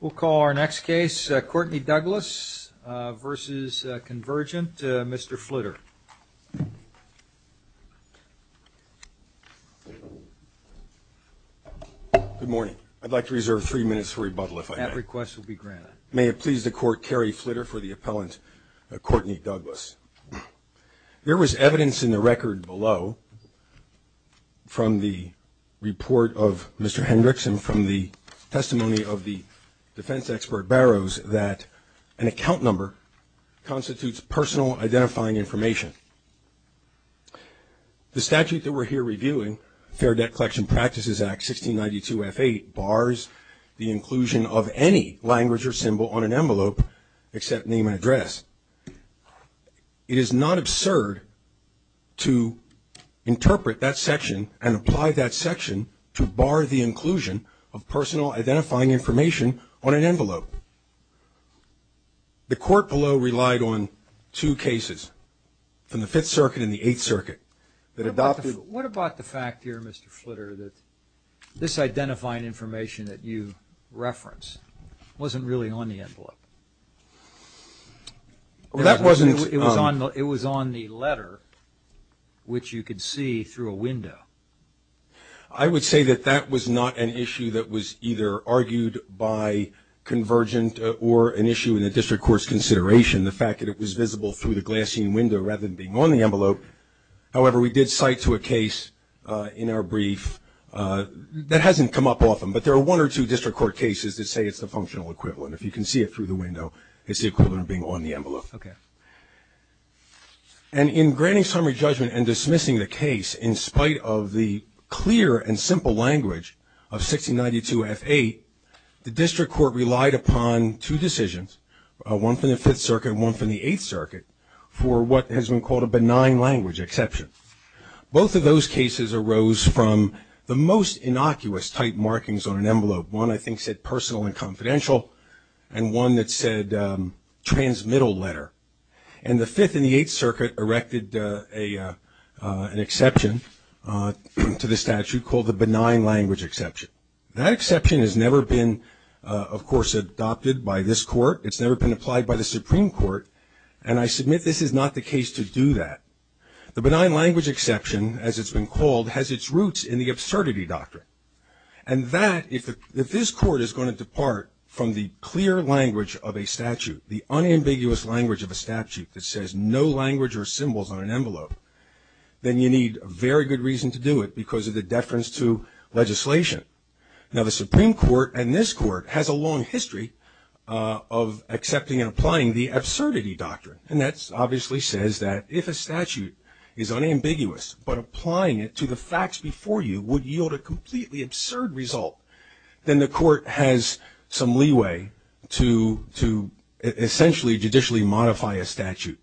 we'll call our next case Courtney Douglas versus Convergent mr. Flitter good morning I'd like to reserve three minutes for rebuttal if I have requests will be granted may it please the court carry flitter for the appellant Courtney Douglas there was evidence in the record below from the report of mr. Hendrickson from the testimony of the defense expert barrows that an account number constitutes personal identifying information the statute that we're here reviewing fair debt collection practices act 1692 f8 bars the inclusion of any language or symbol on an envelope except name and address it is not absurd to apply that section to bar the inclusion of personal identifying information on an envelope the court below relied on two cases from the Fifth Circuit in the Eighth Circuit that adopted what about the fact here mr. Flitter that this identifying information that you reference wasn't really on the envelope well that wasn't it was on it was on the letter which you could see through a window I would say that that was not an issue that was either argued by convergent or an issue in the district courts consideration the fact that it was visible through the glassine window rather than being on the envelope however we did cite to a case in our brief that hasn't come up often but there are one or two district court cases that say it's the functional equivalent if you can see it through the window it's the equivalent of being on the envelope okay and in granting summary judgment and dismissing the case in spite of the clear and simple language of 1692 f8 the district court relied upon two decisions one from the Fifth Circuit one from the Eighth Circuit for what has been called a benign language exception both of those cases arose from the most innocuous type markings on an envelope one I think said personal and confidential and one that said transmittal letter and the Fifth and the Eighth Circuit erected a an exception to the statute called the benign language exception that exception has never been of course adopted by this court it's never been applied by the Supreme Court and I submit this is not the case to do that the benign language exception as it's been called has its if this court is going to depart from the clear language of a statute the unambiguous language of a statute that says no language or symbols on an envelope then you need a very good reason to do it because of the deference to legislation now the Supreme Court and this court has a long history of accepting and applying the absurdity doctrine and that's obviously says that if a statute is unambiguous but applying it to the facts before you would yield a then the court has some leeway to to essentially judicially modify a statute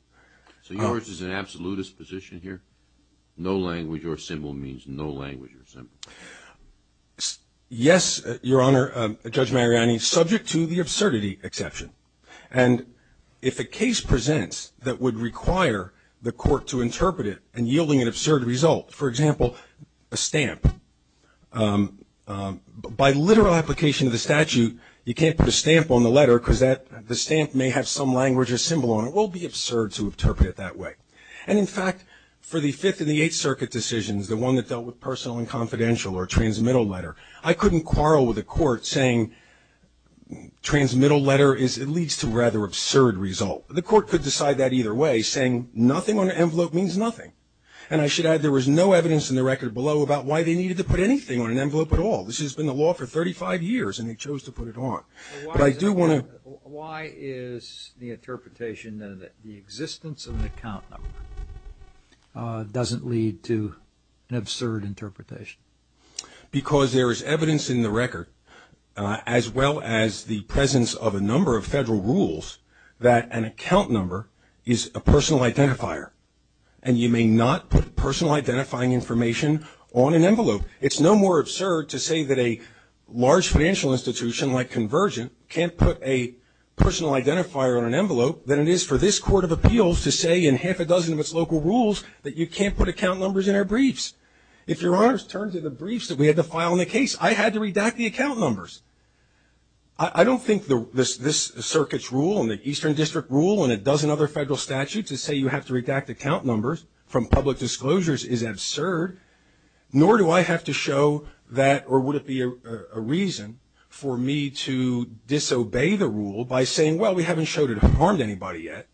so yours is an absolutist position here no language or symbol means no language or symbol yes your honor judge Mariani subject to the absurdity exception and if the case presents that would require the court to interpret it and yielding absurd result for example a stamp by literal application of the statute you can't put a stamp on the letter because that the stamp may have some language or symbol and it will be absurd to interpret it that way and in fact for the Fifth and the Eighth Circuit decisions the one that dealt with personal and confidential or transmittal letter I couldn't quarrel with the court saying transmittal letter is it leads to rather absurd result the court could decide that either way saying nothing on the envelope means nothing and I should add there was no evidence in the record below about why they needed to put anything on an envelope at all this has been the law for 35 years and he chose to put it on I do want to why is the interpretation that the existence of an account doesn't lead to an absurd interpretation because there is evidence in the record as well as the presence of a number of federal rules that an account number is a personal identifier and you may not put personal identifying information on an envelope it's no more absurd to say that a large financial institution like Convergent can't put a personal identifier on an envelope than it is for this Court of Appeals to say in half a dozen of its local rules that you can't put account numbers in our briefs if your honors turn to the briefs that we had to file in the case I had to redact the account numbers I don't think the this this circuit's rule and the Eastern District rule and a dozen other federal statutes to say you have to redact account numbers from public disclosures is absurd nor do I have to show that or would it be a reason for me to disobey the rule by saying well we haven't showed it harmed anybody yet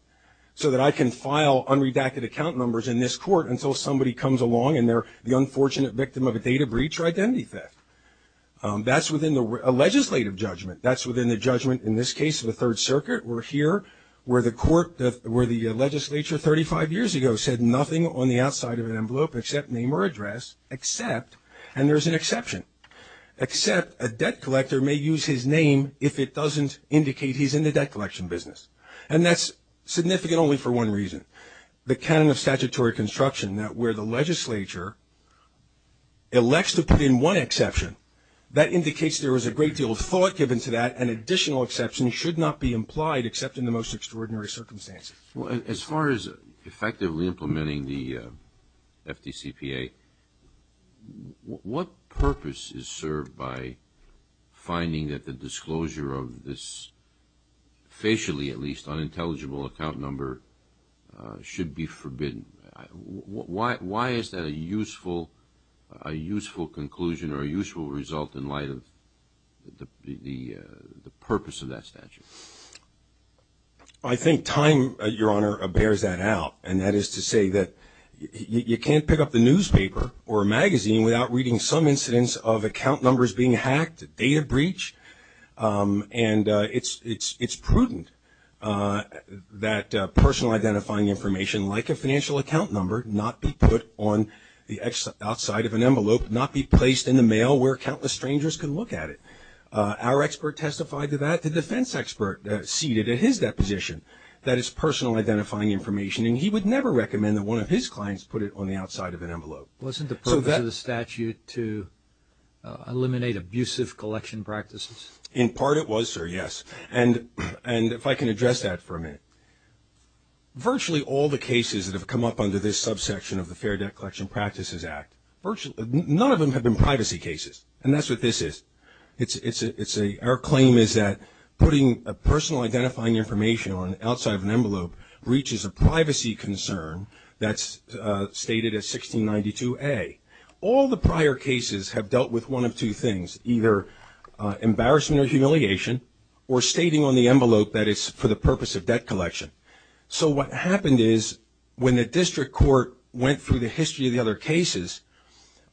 so that I can file unredacted account numbers in this court until somebody comes along and they're the unfortunate victim of a data breach or identity theft that's within the legislative judgment that's where the court where the legislature 35 years ago said nothing on the outside of an envelope except name or address except and there's an exception except a debt collector may use his name if it doesn't indicate he's in the debt collection business and that's significant only for one reason the canon of statutory construction that where the legislature elects to put in one exception that indicates there was a great deal of thought given to that an most extraordinary circumstances as far as effectively implementing the FDCPA what purpose is served by finding that the disclosure of this facially at least unintelligible account number should be forbidden why why is that a useful a useful conclusion or a useful result in light of the the purpose of that statute I think time your honor bears that out and that is to say that you can't pick up the newspaper or magazine without reading some incidents of account numbers being hacked data breach and it's it's it's prudent that personal identifying information like a financial account number not be put on the exit outside of an envelope not be placed in the mail where countless strangers can look at it our expert testified to that the defense expert seated at his deposition that is personal identifying information and he would never recommend that one of his clients put it on the outside of an envelope wasn't the purpose of the statute to eliminate abusive collection practices in part it was sir yes and and if I can address that for a minute virtually all the cases that have come up under this subsection of the fair debt collection practices act virtually none of them have been privacy cases and that's what this is it's it's a it's a our claim is that putting a personal identifying information on outside of an envelope reaches a privacy concern that's stated as 1692 a all the prior cases have dealt with one of two things either embarrassment or humiliation or stating on the envelope that it's for the purpose of debt collection so what happened is when the district court went through the history of the other cases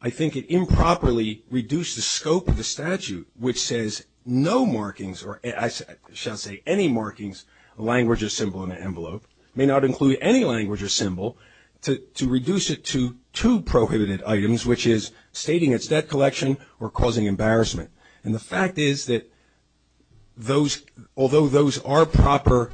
I think it improperly reduced the scope of the statute which says no markings or I shall say any markings language or symbol in the envelope may not include any language or symbol to reduce it to two prohibited items which is stating its debt collection or causing embarrassment and the fact is that those although those are proper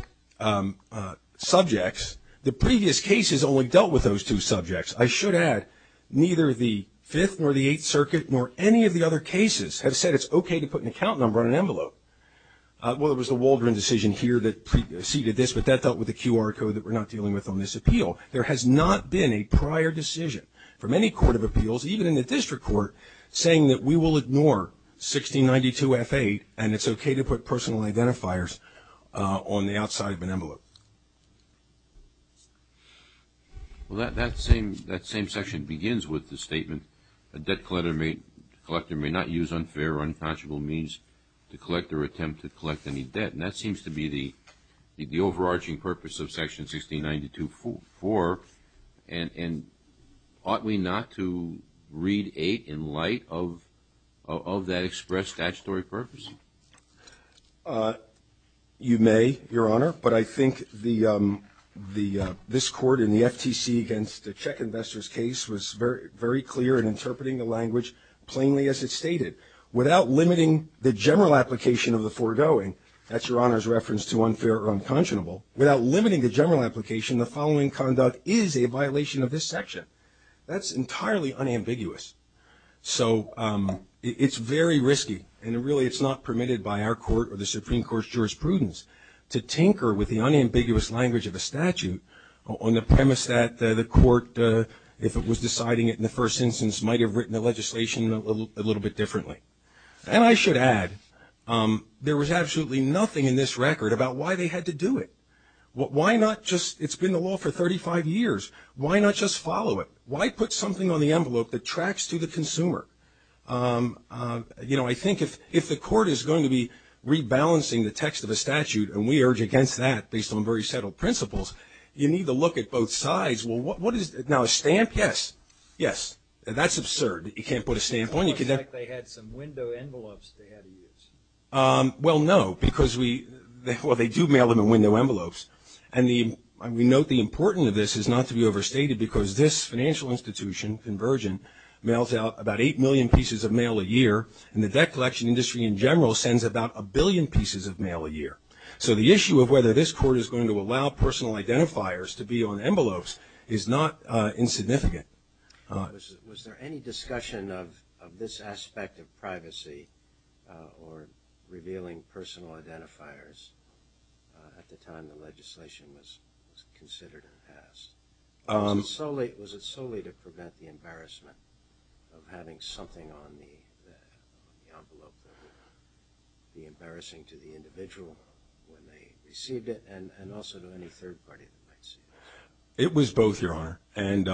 subjects the previous cases only dealt with those two subjects I should add neither the fifth nor the Eighth Circuit nor any of the other cases have said it's okay to put an account number on an envelope well it was the Waldron decision here that preceded this but that dealt with the QR code that we're not dealing with on this appeal there has not been a prior decision from any court of appeals even in the district court saying that we will ignore 1692 f8 and it's okay to put personal identifiers on the outside of an envelope well that that same that begins with the statement a debt collector may collector may not use unfair or unconscionable means to collect or attempt to collect any debt and that seems to be the the overarching purpose of section 1692 for and and ought we not to read eight in light of of that express statutory purpose you may your honor but I think the the this court in the FTC against the check investors case was very very clear in interpreting the language plainly as it stated without limiting the general application of the foregoing that's your honor's reference to unfair or unconscionable without limiting the general application the following conduct is a violation of this section that's entirely unambiguous so it's very risky and really it's not permitted by our court or the Supreme Court's jurisprudence to tinker with the if it was deciding it in the first instance might have written the legislation a little bit differently and I should add there was absolutely nothing in this record about why they had to do it what why not just it's been the law for 35 years why not just follow it why put something on the envelope that tracks to the consumer you know I think if if the court is going to be rebalancing the text of a statute and we urge against that based on very settled principles you need to look at both sides well what is it now a stamp yes yes that's absurd you can't put a stamp on you could they had some window envelopes well no because we therefore they do mail them in window envelopes and the we note the importance of this is not to be overstated because this financial institution convergent mails out about eight million pieces of mail a year and the debt collection industry in general sends about a billion pieces of personal identifiers to be on envelopes is not insignificant was there any discussion of this aspect of privacy or revealing personal identifiers at the time the legislation was considered in the past I'm so late was it solely to prevent the embarrassment of having something on me the embarrassing to the it was both your honor and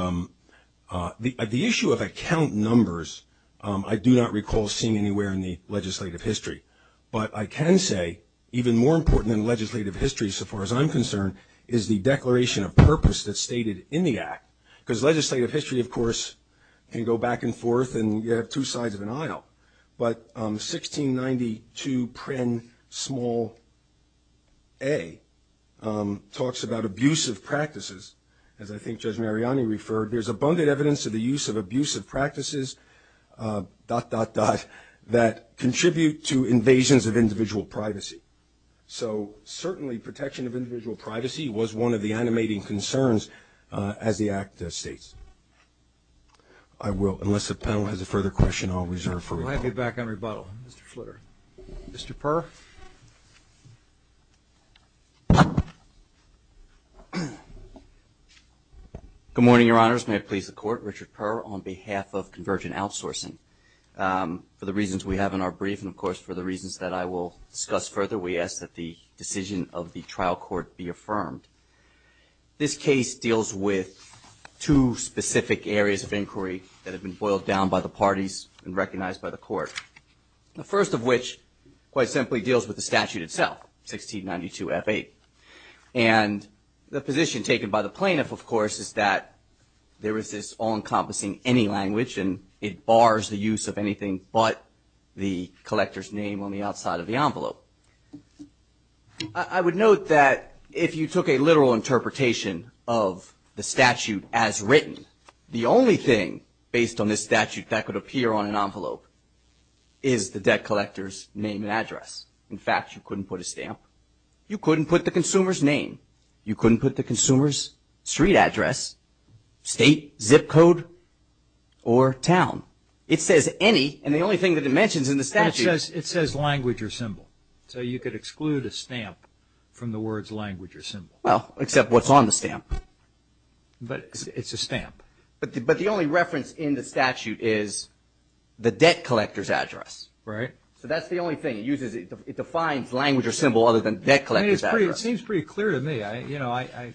the issue of account numbers I do not recall seeing anywhere in the legislative history but I can say even more important than legislative history so far as I'm concerned is the declaration of purpose that stated in the act because legislative history of course can go back and forth and you have two sides of an aisle but 1692 print small a talks about abusive practices as I think judge Mariani referred there's abundant evidence of the use of abusive practices dot dot dot that contribute to invasions of individual privacy so certainly protection of individual privacy was one of the animating concerns as the act states I will unless the panel has a further question I'll reserve for my feedback on rebuttal Mr. Flitter Mr. per good morning your honors may please the court Richard per on behalf of convergent outsourcing for the reasons we have in our brief and of course for the reasons that I will discuss further we ask that the decision of the trial court be affirmed this case deals with two specific areas of inquiry that have been boiled down by the parties and recognized by the court the first of which quite simply deals with the statute itself 1692 f8 and the position taken by the plaintiff of course is that there is this all-encompassing any language and it bars the use of anything but the collector's name on the outside of the envelope I would note that if you took a literal interpretation of the statute as written the only thing based on this statute that could appear on an envelope is the debt collectors name and address in fact you couldn't put a stamp you couldn't put the consumers name you couldn't put the consumers street address state zip code or town it says any and the only thing that it mentions it says language or symbol so you could exclude a stamp from the words language well except what's on the stamp but it's a stamp but the only reference in the statute is the debt collectors address right so that's the only thing you did it defines language or symbol other than that seems pretty clear to me I you know I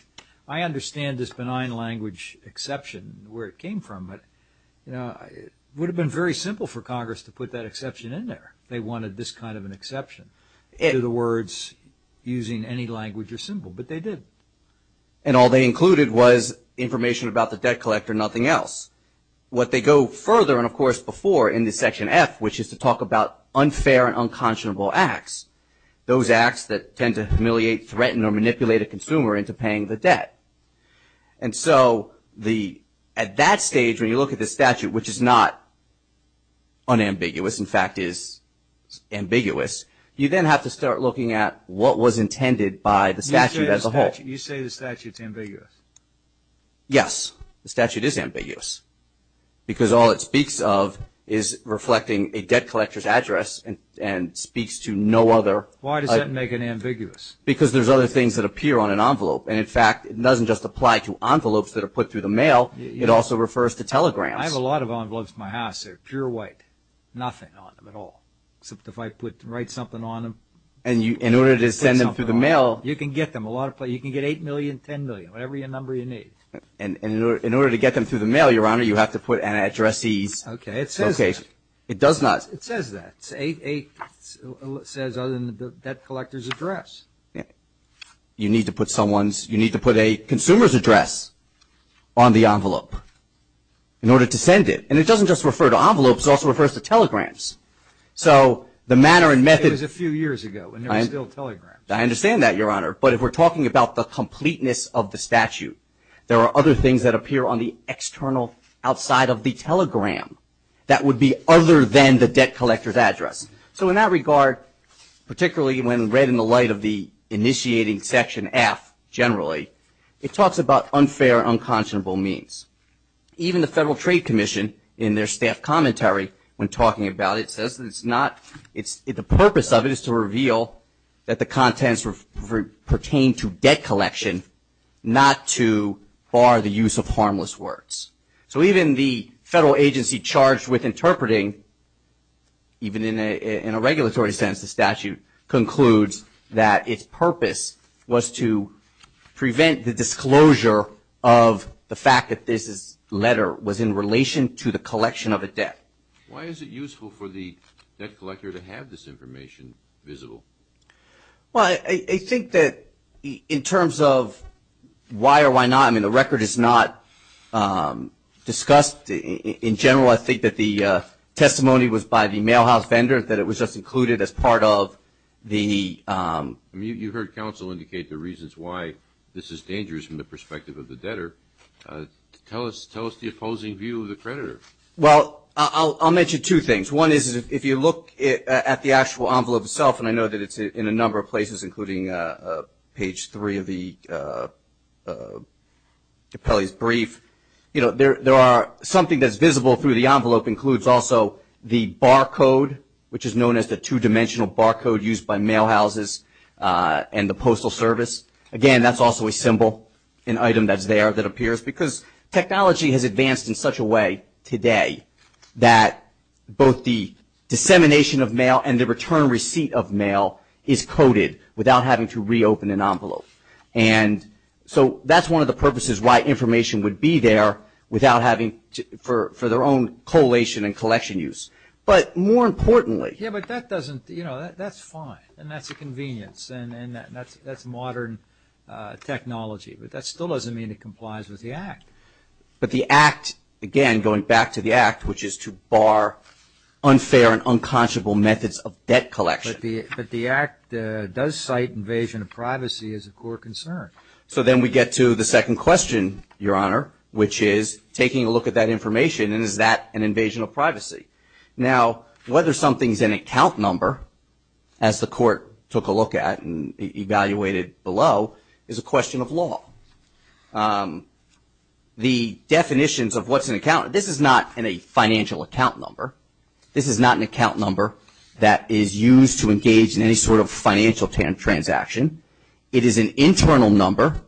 I understand this benign language exception where it came from it would have been very simple for Congress to put that exception in there they wanted this kind of an exception in the words using any language or symbol but they did and all they included was information about the debt collector nothing else what they go further and of course before in the section F which is to talk about unfair and unconscionable acts those acts that tend to humiliate threaten or manipulate a consumer into paying the debt and so the at that stage when you look at the statute which is not unambiguous in fact is ambiguous you then have to start looking at what was intended by the statute as a whole you say the statutes ambiguous yes the statute is ambiguous because all it speaks of is reflecting a debt collectors address and and speaks to no other why does that make an ambiguous because there's other things that appear on an envelope and in fact it doesn't just apply to envelopes that are put through the mail it also refers to telegrams I have a lot of envelopes my house they're pure white nothing on them at all except if I put to write something on them and you in order to send them through the mail you can get them a lot of play you can get eight million ten million whatever your number you need and in order to get them through the mail your honor you have to put an address ease okay it says okay it does not it says that's a says other than the debt collectors address yeah you need to put someone's you need to put a on the envelope in order to send it and it doesn't just refer to envelopes also refers to telegrams so the manner and method is a few years ago and I understand that your honor but if we're talking about the completeness of the statute there are other things that appear on the external outside of the telegram that would be other than the debt collectors address so in that regard particularly when read in the light of the initiating section F generally it means even the Federal Trade Commission in their staff commentary when talking about it says that it's not it's the purpose of it is to reveal that the contents were pertain to debt collection not to bar the use of harmless words so even the federal agency charged with interpreting even in a regulatory sense the statute concludes that its purpose was to prevent the disclosure of the fact that this is letter was in relation to the collection of a debt why is it useful for the debt collector to have this information visible well I think that in terms of why or why not I mean the record is not discussed in general I think that the testimony was by the mail house vendor that it was just included as part of the you heard counsel indicate the reasons why this is tell us tell us the opposing view of the creditor well I'll mention two things one is if you look at the actual envelope itself and I know that it's in a number of places including page three of the Capelli's brief you know there there are something that's visible through the envelope includes also the barcode which is known as the two-dimensional barcode used by mail houses and the Postal Service again that's also a symbol an item that's there that appears because technology has advanced in such a way today that both the dissemination of mail and the return receipt of mail is coded without having to reopen an envelope and so that's one of the purposes why information would be there without having to for their own collation and collection use but more importantly yeah but that doesn't you know that's fine and that's a convenience and that's that's modern technology but that still doesn't mean it complies with the Act but the Act again going back to the Act which is to bar unfair and unconscionable methods of debt collection but the Act does cite invasion of privacy as a core concern so then we get to the second question your honor which is taking a look at that information and is that an invasion of privacy now whether something's in account number as the court took a look at and evaluated below is a question of law the definitions of what's an account this is not in a financial account number this is not an account number that is used to engage in any sort of financial transaction it is an internal number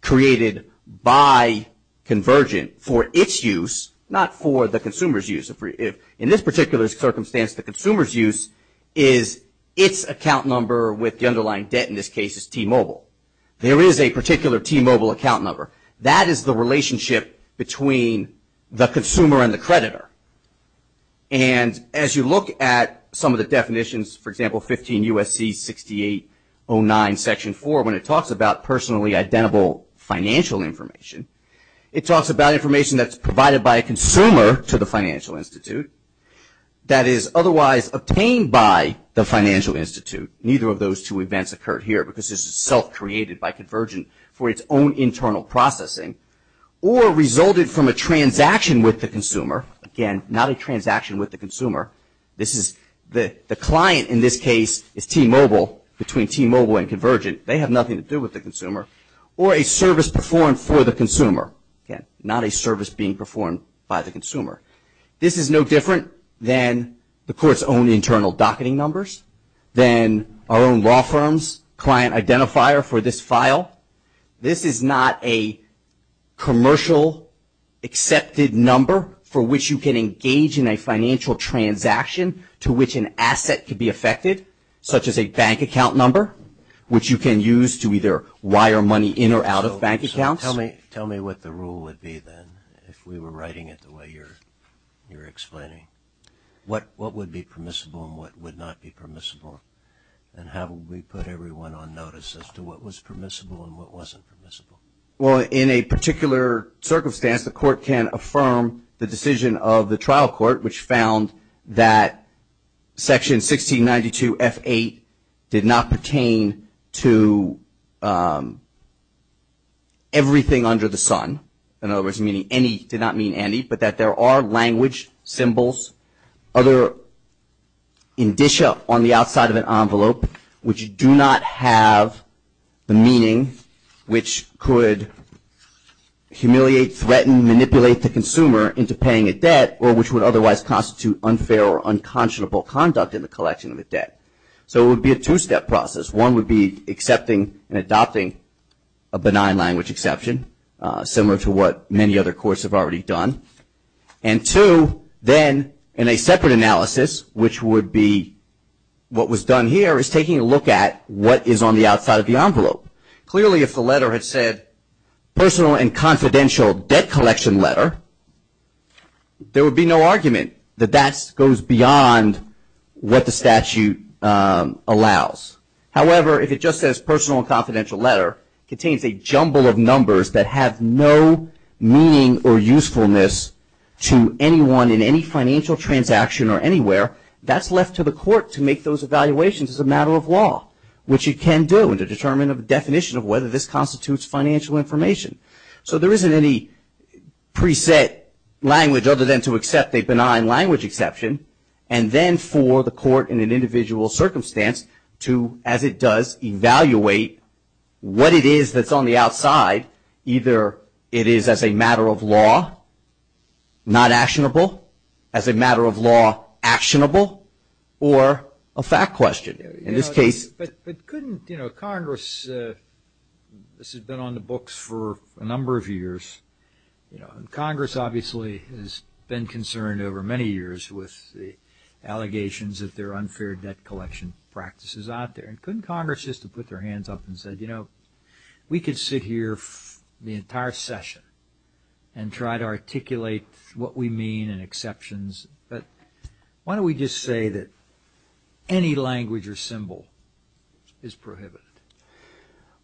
created by Convergent for its use not for the consumers use if in this particular circumstance the consumers use is its account number with the underlying debt in this case is T-Mobile there is a particular T-Mobile account number that is the relationship between the consumer and the creditor and as you look at some of the definitions for example 15 U.S.C. 6809 section 4 when it talks about personally identical financial information it talks about information that's provided by a obtained by the Financial Institute neither of those two events occurred here because this is self-created by Convergent for its own internal processing or resulted from a transaction with the consumer again not a transaction with the consumer this is the the client in this case is T-Mobile between T-Mobile and Convergent they have nothing to do with the consumer or a service performed for the consumer not a service being performed by the internal docketing numbers then our own law firms client identifier for this file this is not a commercial accepted number for which you can engage in a financial transaction to which an asset could be affected such as a bank account number which you can use to either wire money in or out of bank accounts tell me tell me what the rule would be then if we were writing it the way you're explaining what what would be permissible and what would not be permissible and how we put everyone on notice as to what was permissible and what wasn't permissible well in a particular circumstance the court can affirm the decision of the trial court which found that section 1692 f8 did not pertain to everything under the Sun in other words meaning any did not mean any but that there are language symbols other indicia on the outside of an envelope which do not have the meaning which could humiliate threaten manipulate the consumer into paying a debt or which would otherwise constitute unfair or unconscionable conduct in the collection of the debt so it would be a two-step process one would be accepting and adopting a benign language exception similar to what many other courts have already done and to then in a separate analysis which would be what was done here is taking a look at what is on the outside of the envelope clearly if the letter had said personal and confidential debt collection letter there would be no argument that that goes beyond what the statute allows however if it just says personal confidential letter contains a jumble of numbers that have no meaning or usefulness to anyone in any financial transaction or anywhere that's left to the court to make those evaluations as a matter of law which you can do and to determine of definition of whether this constitutes financial information so there isn't any preset language other than to accept a benign language exception and then for the court in an individual circumstance to as it does evaluate what it is that's on the outside either it is as a matter of law not actionable as a matter of law actionable or a fact question in this case but couldn't you know Congress this has been on the books for a number of years you know Congress obviously has been concerned over many years with the allegations that they're unfair debt collection practices out there and Congress just to put their hands up and said you know we could sit here the entire session and try to articulate what we mean and exceptions but why don't we just say that any language or symbol is prohibited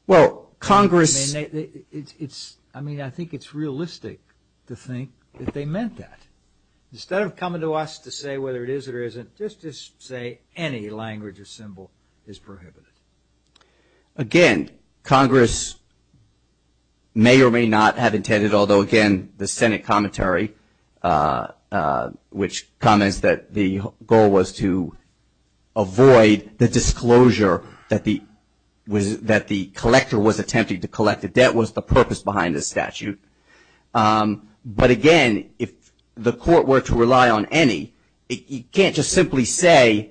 well Congress it's I mean I think it's realistic to think that they meant that instead of coming to us to say whether it is it or isn't just just say any language or symbol is again Congress may or may not have intended although again the Senate commentary which comments that the goal was to avoid the disclosure that the was that the collector was attempting to collect a debt was the purpose behind this statute but again if the court were to rely on any it can't just simply say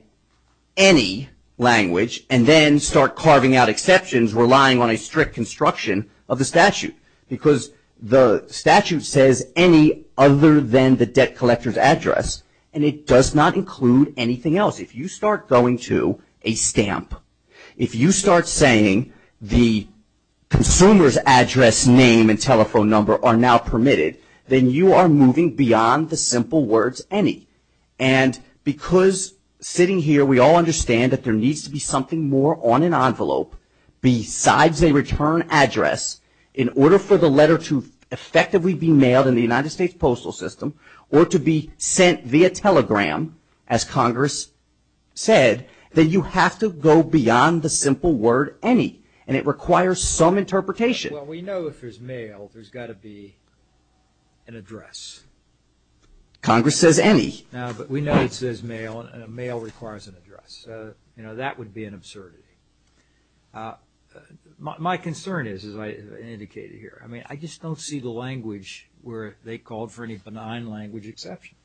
any language and then start carving out exceptions relying on a strict construction of the statute because the statute says any other than the debt collectors address and it does not include anything else if you start going to a stamp if you start saying the consumers address name and telephone number are now permitted then you are moving beyond the simple words any and because sitting here we all understand that there needs to be something more on an envelope besides a return address in order for the letter to effectively be mailed in the United States postal system or to be sent via telegram as Congress said that you have to go beyond the simple word any and it requires some interpretation we know if there's mail there's got to be an address Congress says any but we know it says mail and a mail requires an address you know that would be an absurdity my concern is as I indicated here I mean I just don't see the language where they called for any benign language exception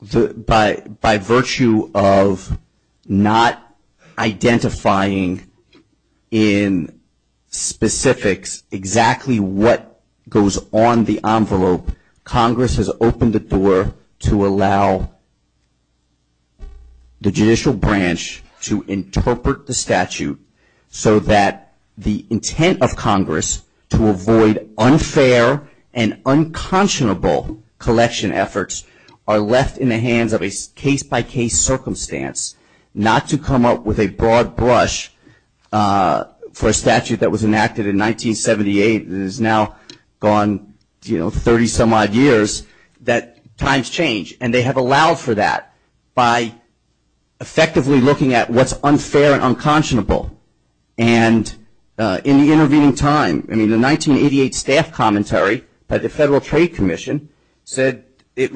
the by by virtue of not identifying in specifics exactly what goes on the envelope Congress has opened the door to allow the judicial branch to interpret the statute so that the intent of Congress to avoid unfair and unconscionable collection efforts are left in the hands of a case-by-case circumstance not to come up with a broad brush for a statute that was enacted in 1978 is now gone you might years that times change and they have allowed for that by effectively looking at what's unfair and unconscionable and in the intervening time I mean the 1988 staff commentary by the Federal Trade Commission said it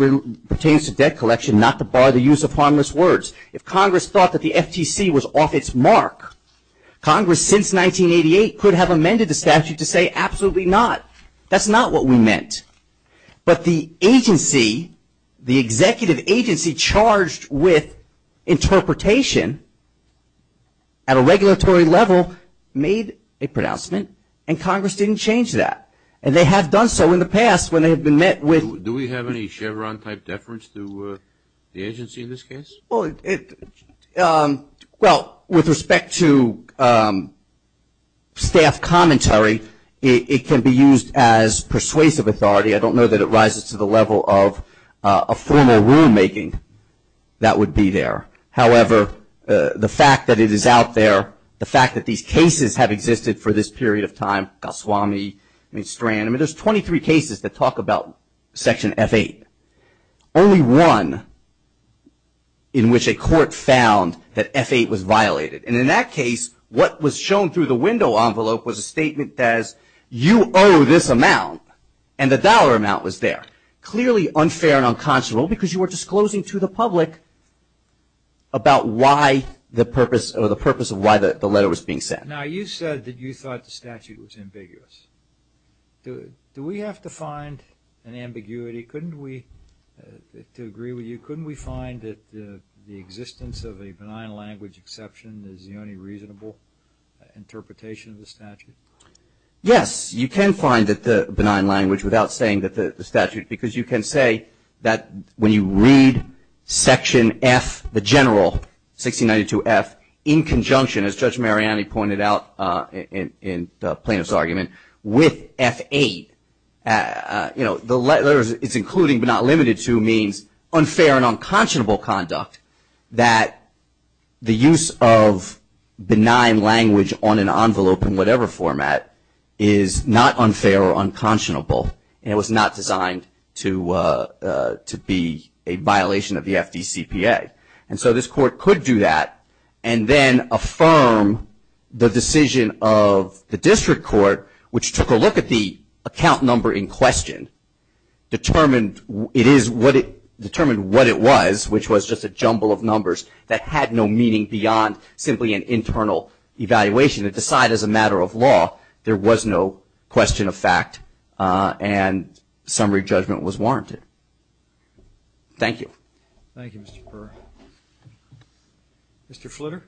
pertains to debt collection not the bar the use of harmless words if Congress thought that the FTC was off its mark Congress since 1988 could have amended the statute to say absolutely not that's not what we meant but the agency the executive agency charged with interpretation at a regulatory level made a pronouncement and Congress didn't change that and they have done so in the past when they have been met with do we have any Chevron type deference to the it can be used as persuasive authority I don't know that it rises to the level of a formal rulemaking that would be there however the fact that it is out there the fact that these cases have existed for this period of time Goswami, Strand, there's 23 cases that talk about section f8 only one in which a court found that f8 was violated and in that case what was shown through the statement as you owe this amount and the dollar amount was there clearly unfair and unconscionable because you were disclosing to the public about why the purpose or the purpose of why that the letter was being sent now you said that you thought the statute was ambiguous do we have to find an ambiguity couldn't we to agree with you couldn't we find that the existence of a benign language exception is the only reasonable interpretation of the statute yes you can find that the benign language without saying that the statute because you can say that when you read section F the general 1692 F in conjunction as Judge Mariani pointed out in plaintiff's argument with f8 you know the letters it's including but not limited to means unfair and unconscionable conduct that the use of benign language on an envelope in whatever format is not unfair or unconscionable it was not designed to to be a violation of the FDCPA and so this court could do that and then affirm the decision of the district court which took a look at the account number in question determined it is what it determined what it was which was just a jumble of numbers that had no meaning beyond simply an internal evaluation to side as a matter of law there was no question of fact and summary judgment was warranted thank you thank you mr. per mr. flitter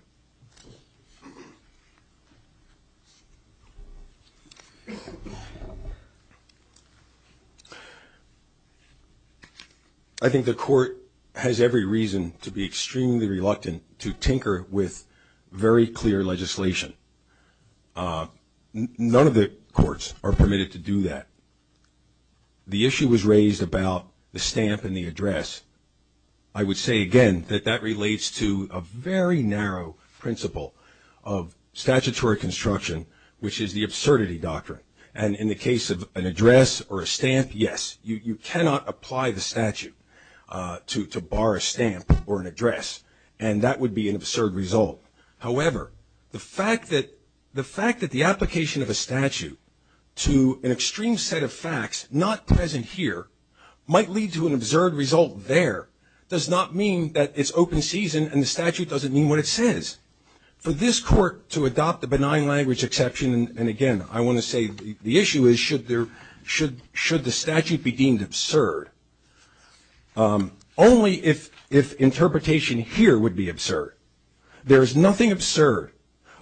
I think the court has every reason to be extremely reluctant to tinker with very clear legislation none of the courts are permitted to do that the issue was raised about the stamp and the address I would say again that that relates to a very narrow principle of statutory construction which is the absurdity doctrine and in the case of an address or a stamp yes you cannot apply the statute to to bar a stamp or an address and that would be an absurd result however the fact that the fact that the application of a statute to an extreme set of facts not present here might lead to an absurd result there does not mean that it's open season and the statute doesn't mean what it says for this court to adopt the benign language exception and again I want to say the issue is should there should should the statute be deemed absurd only if if interpretation here would be absurd there is nothing absurd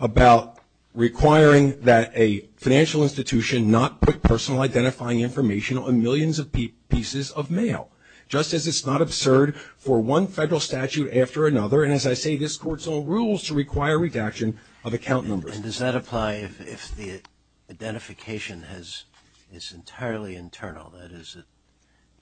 about requiring that a financial institution not put personal identifying information on millions of pieces of mail just as it's not absurd for one federal statute after another and as I say this court's own rules to require redaction of account numbers and does that apply if the identification has it's entirely internal that is it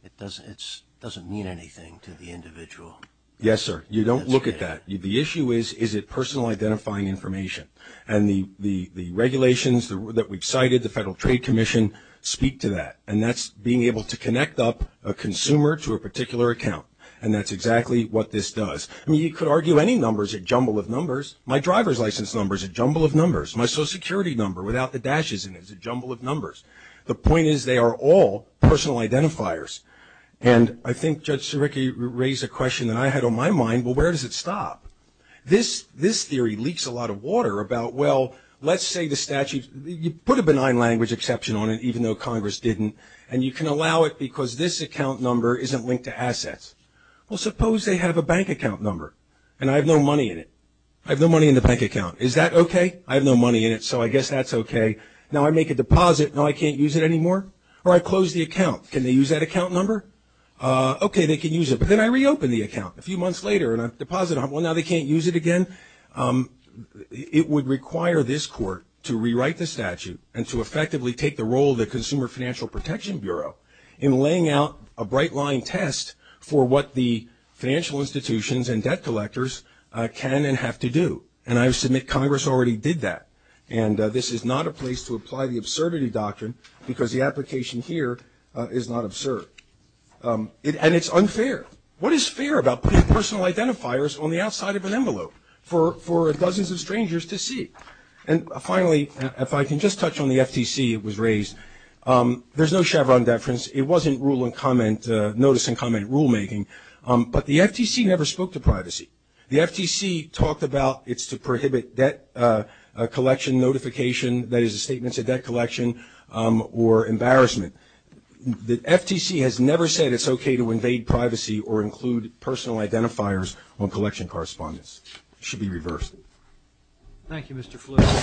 it doesn't it's doesn't mean anything to the individual yes sir you don't look at that you the issue is is it personal identifying information and the the the regulations that we've cited the Federal Trade Commission speak to that and that's being able to connect up a consumer to a particular account and that's exactly what this does I mean you could argue any numbers a jumble of numbers my driver's license numbers a jumble of numbers my social security number without the dashes in it's a jumble of all personal identifiers and I think Judge Siriki raised a question that I had on my mind well where does it stop this this theory leaks a lot of water about well let's say the statute you put a benign language exception on it even though Congress didn't and you can allow it because this account number isn't linked to assets well suppose they have a bank account number and I have no money in it I have no money in the bank account is that okay I have no money in it so I guess that's okay now I make a deposit now I can't use it anymore or I close the account can they use that account number okay they can use it but then I reopen the account a few months later and I've deposited well now they can't use it again it would require this court to rewrite the statute and to effectively take the role of the Consumer Financial Protection Bureau in laying out a bright line test for what the financial institutions and debt collectors can and have to do and I submit Congress already did that and this is not a place to apply the absurdity doctrine because the is not absurd and it's unfair what is fair about personal identifiers on the outside of an envelope for for dozens of strangers to see and finally if I can just touch on the FTC it was raised there's no Chevron deference it wasn't rule and comment notice and comment rulemaking but the FTC never spoke to privacy the FTC talked about it's to prohibit debt collection notification that is a statement to debt collection or embarrassment the FTC has never said it's okay to invade privacy or include personal identifiers on collection correspondence should be reversed Thank You mr.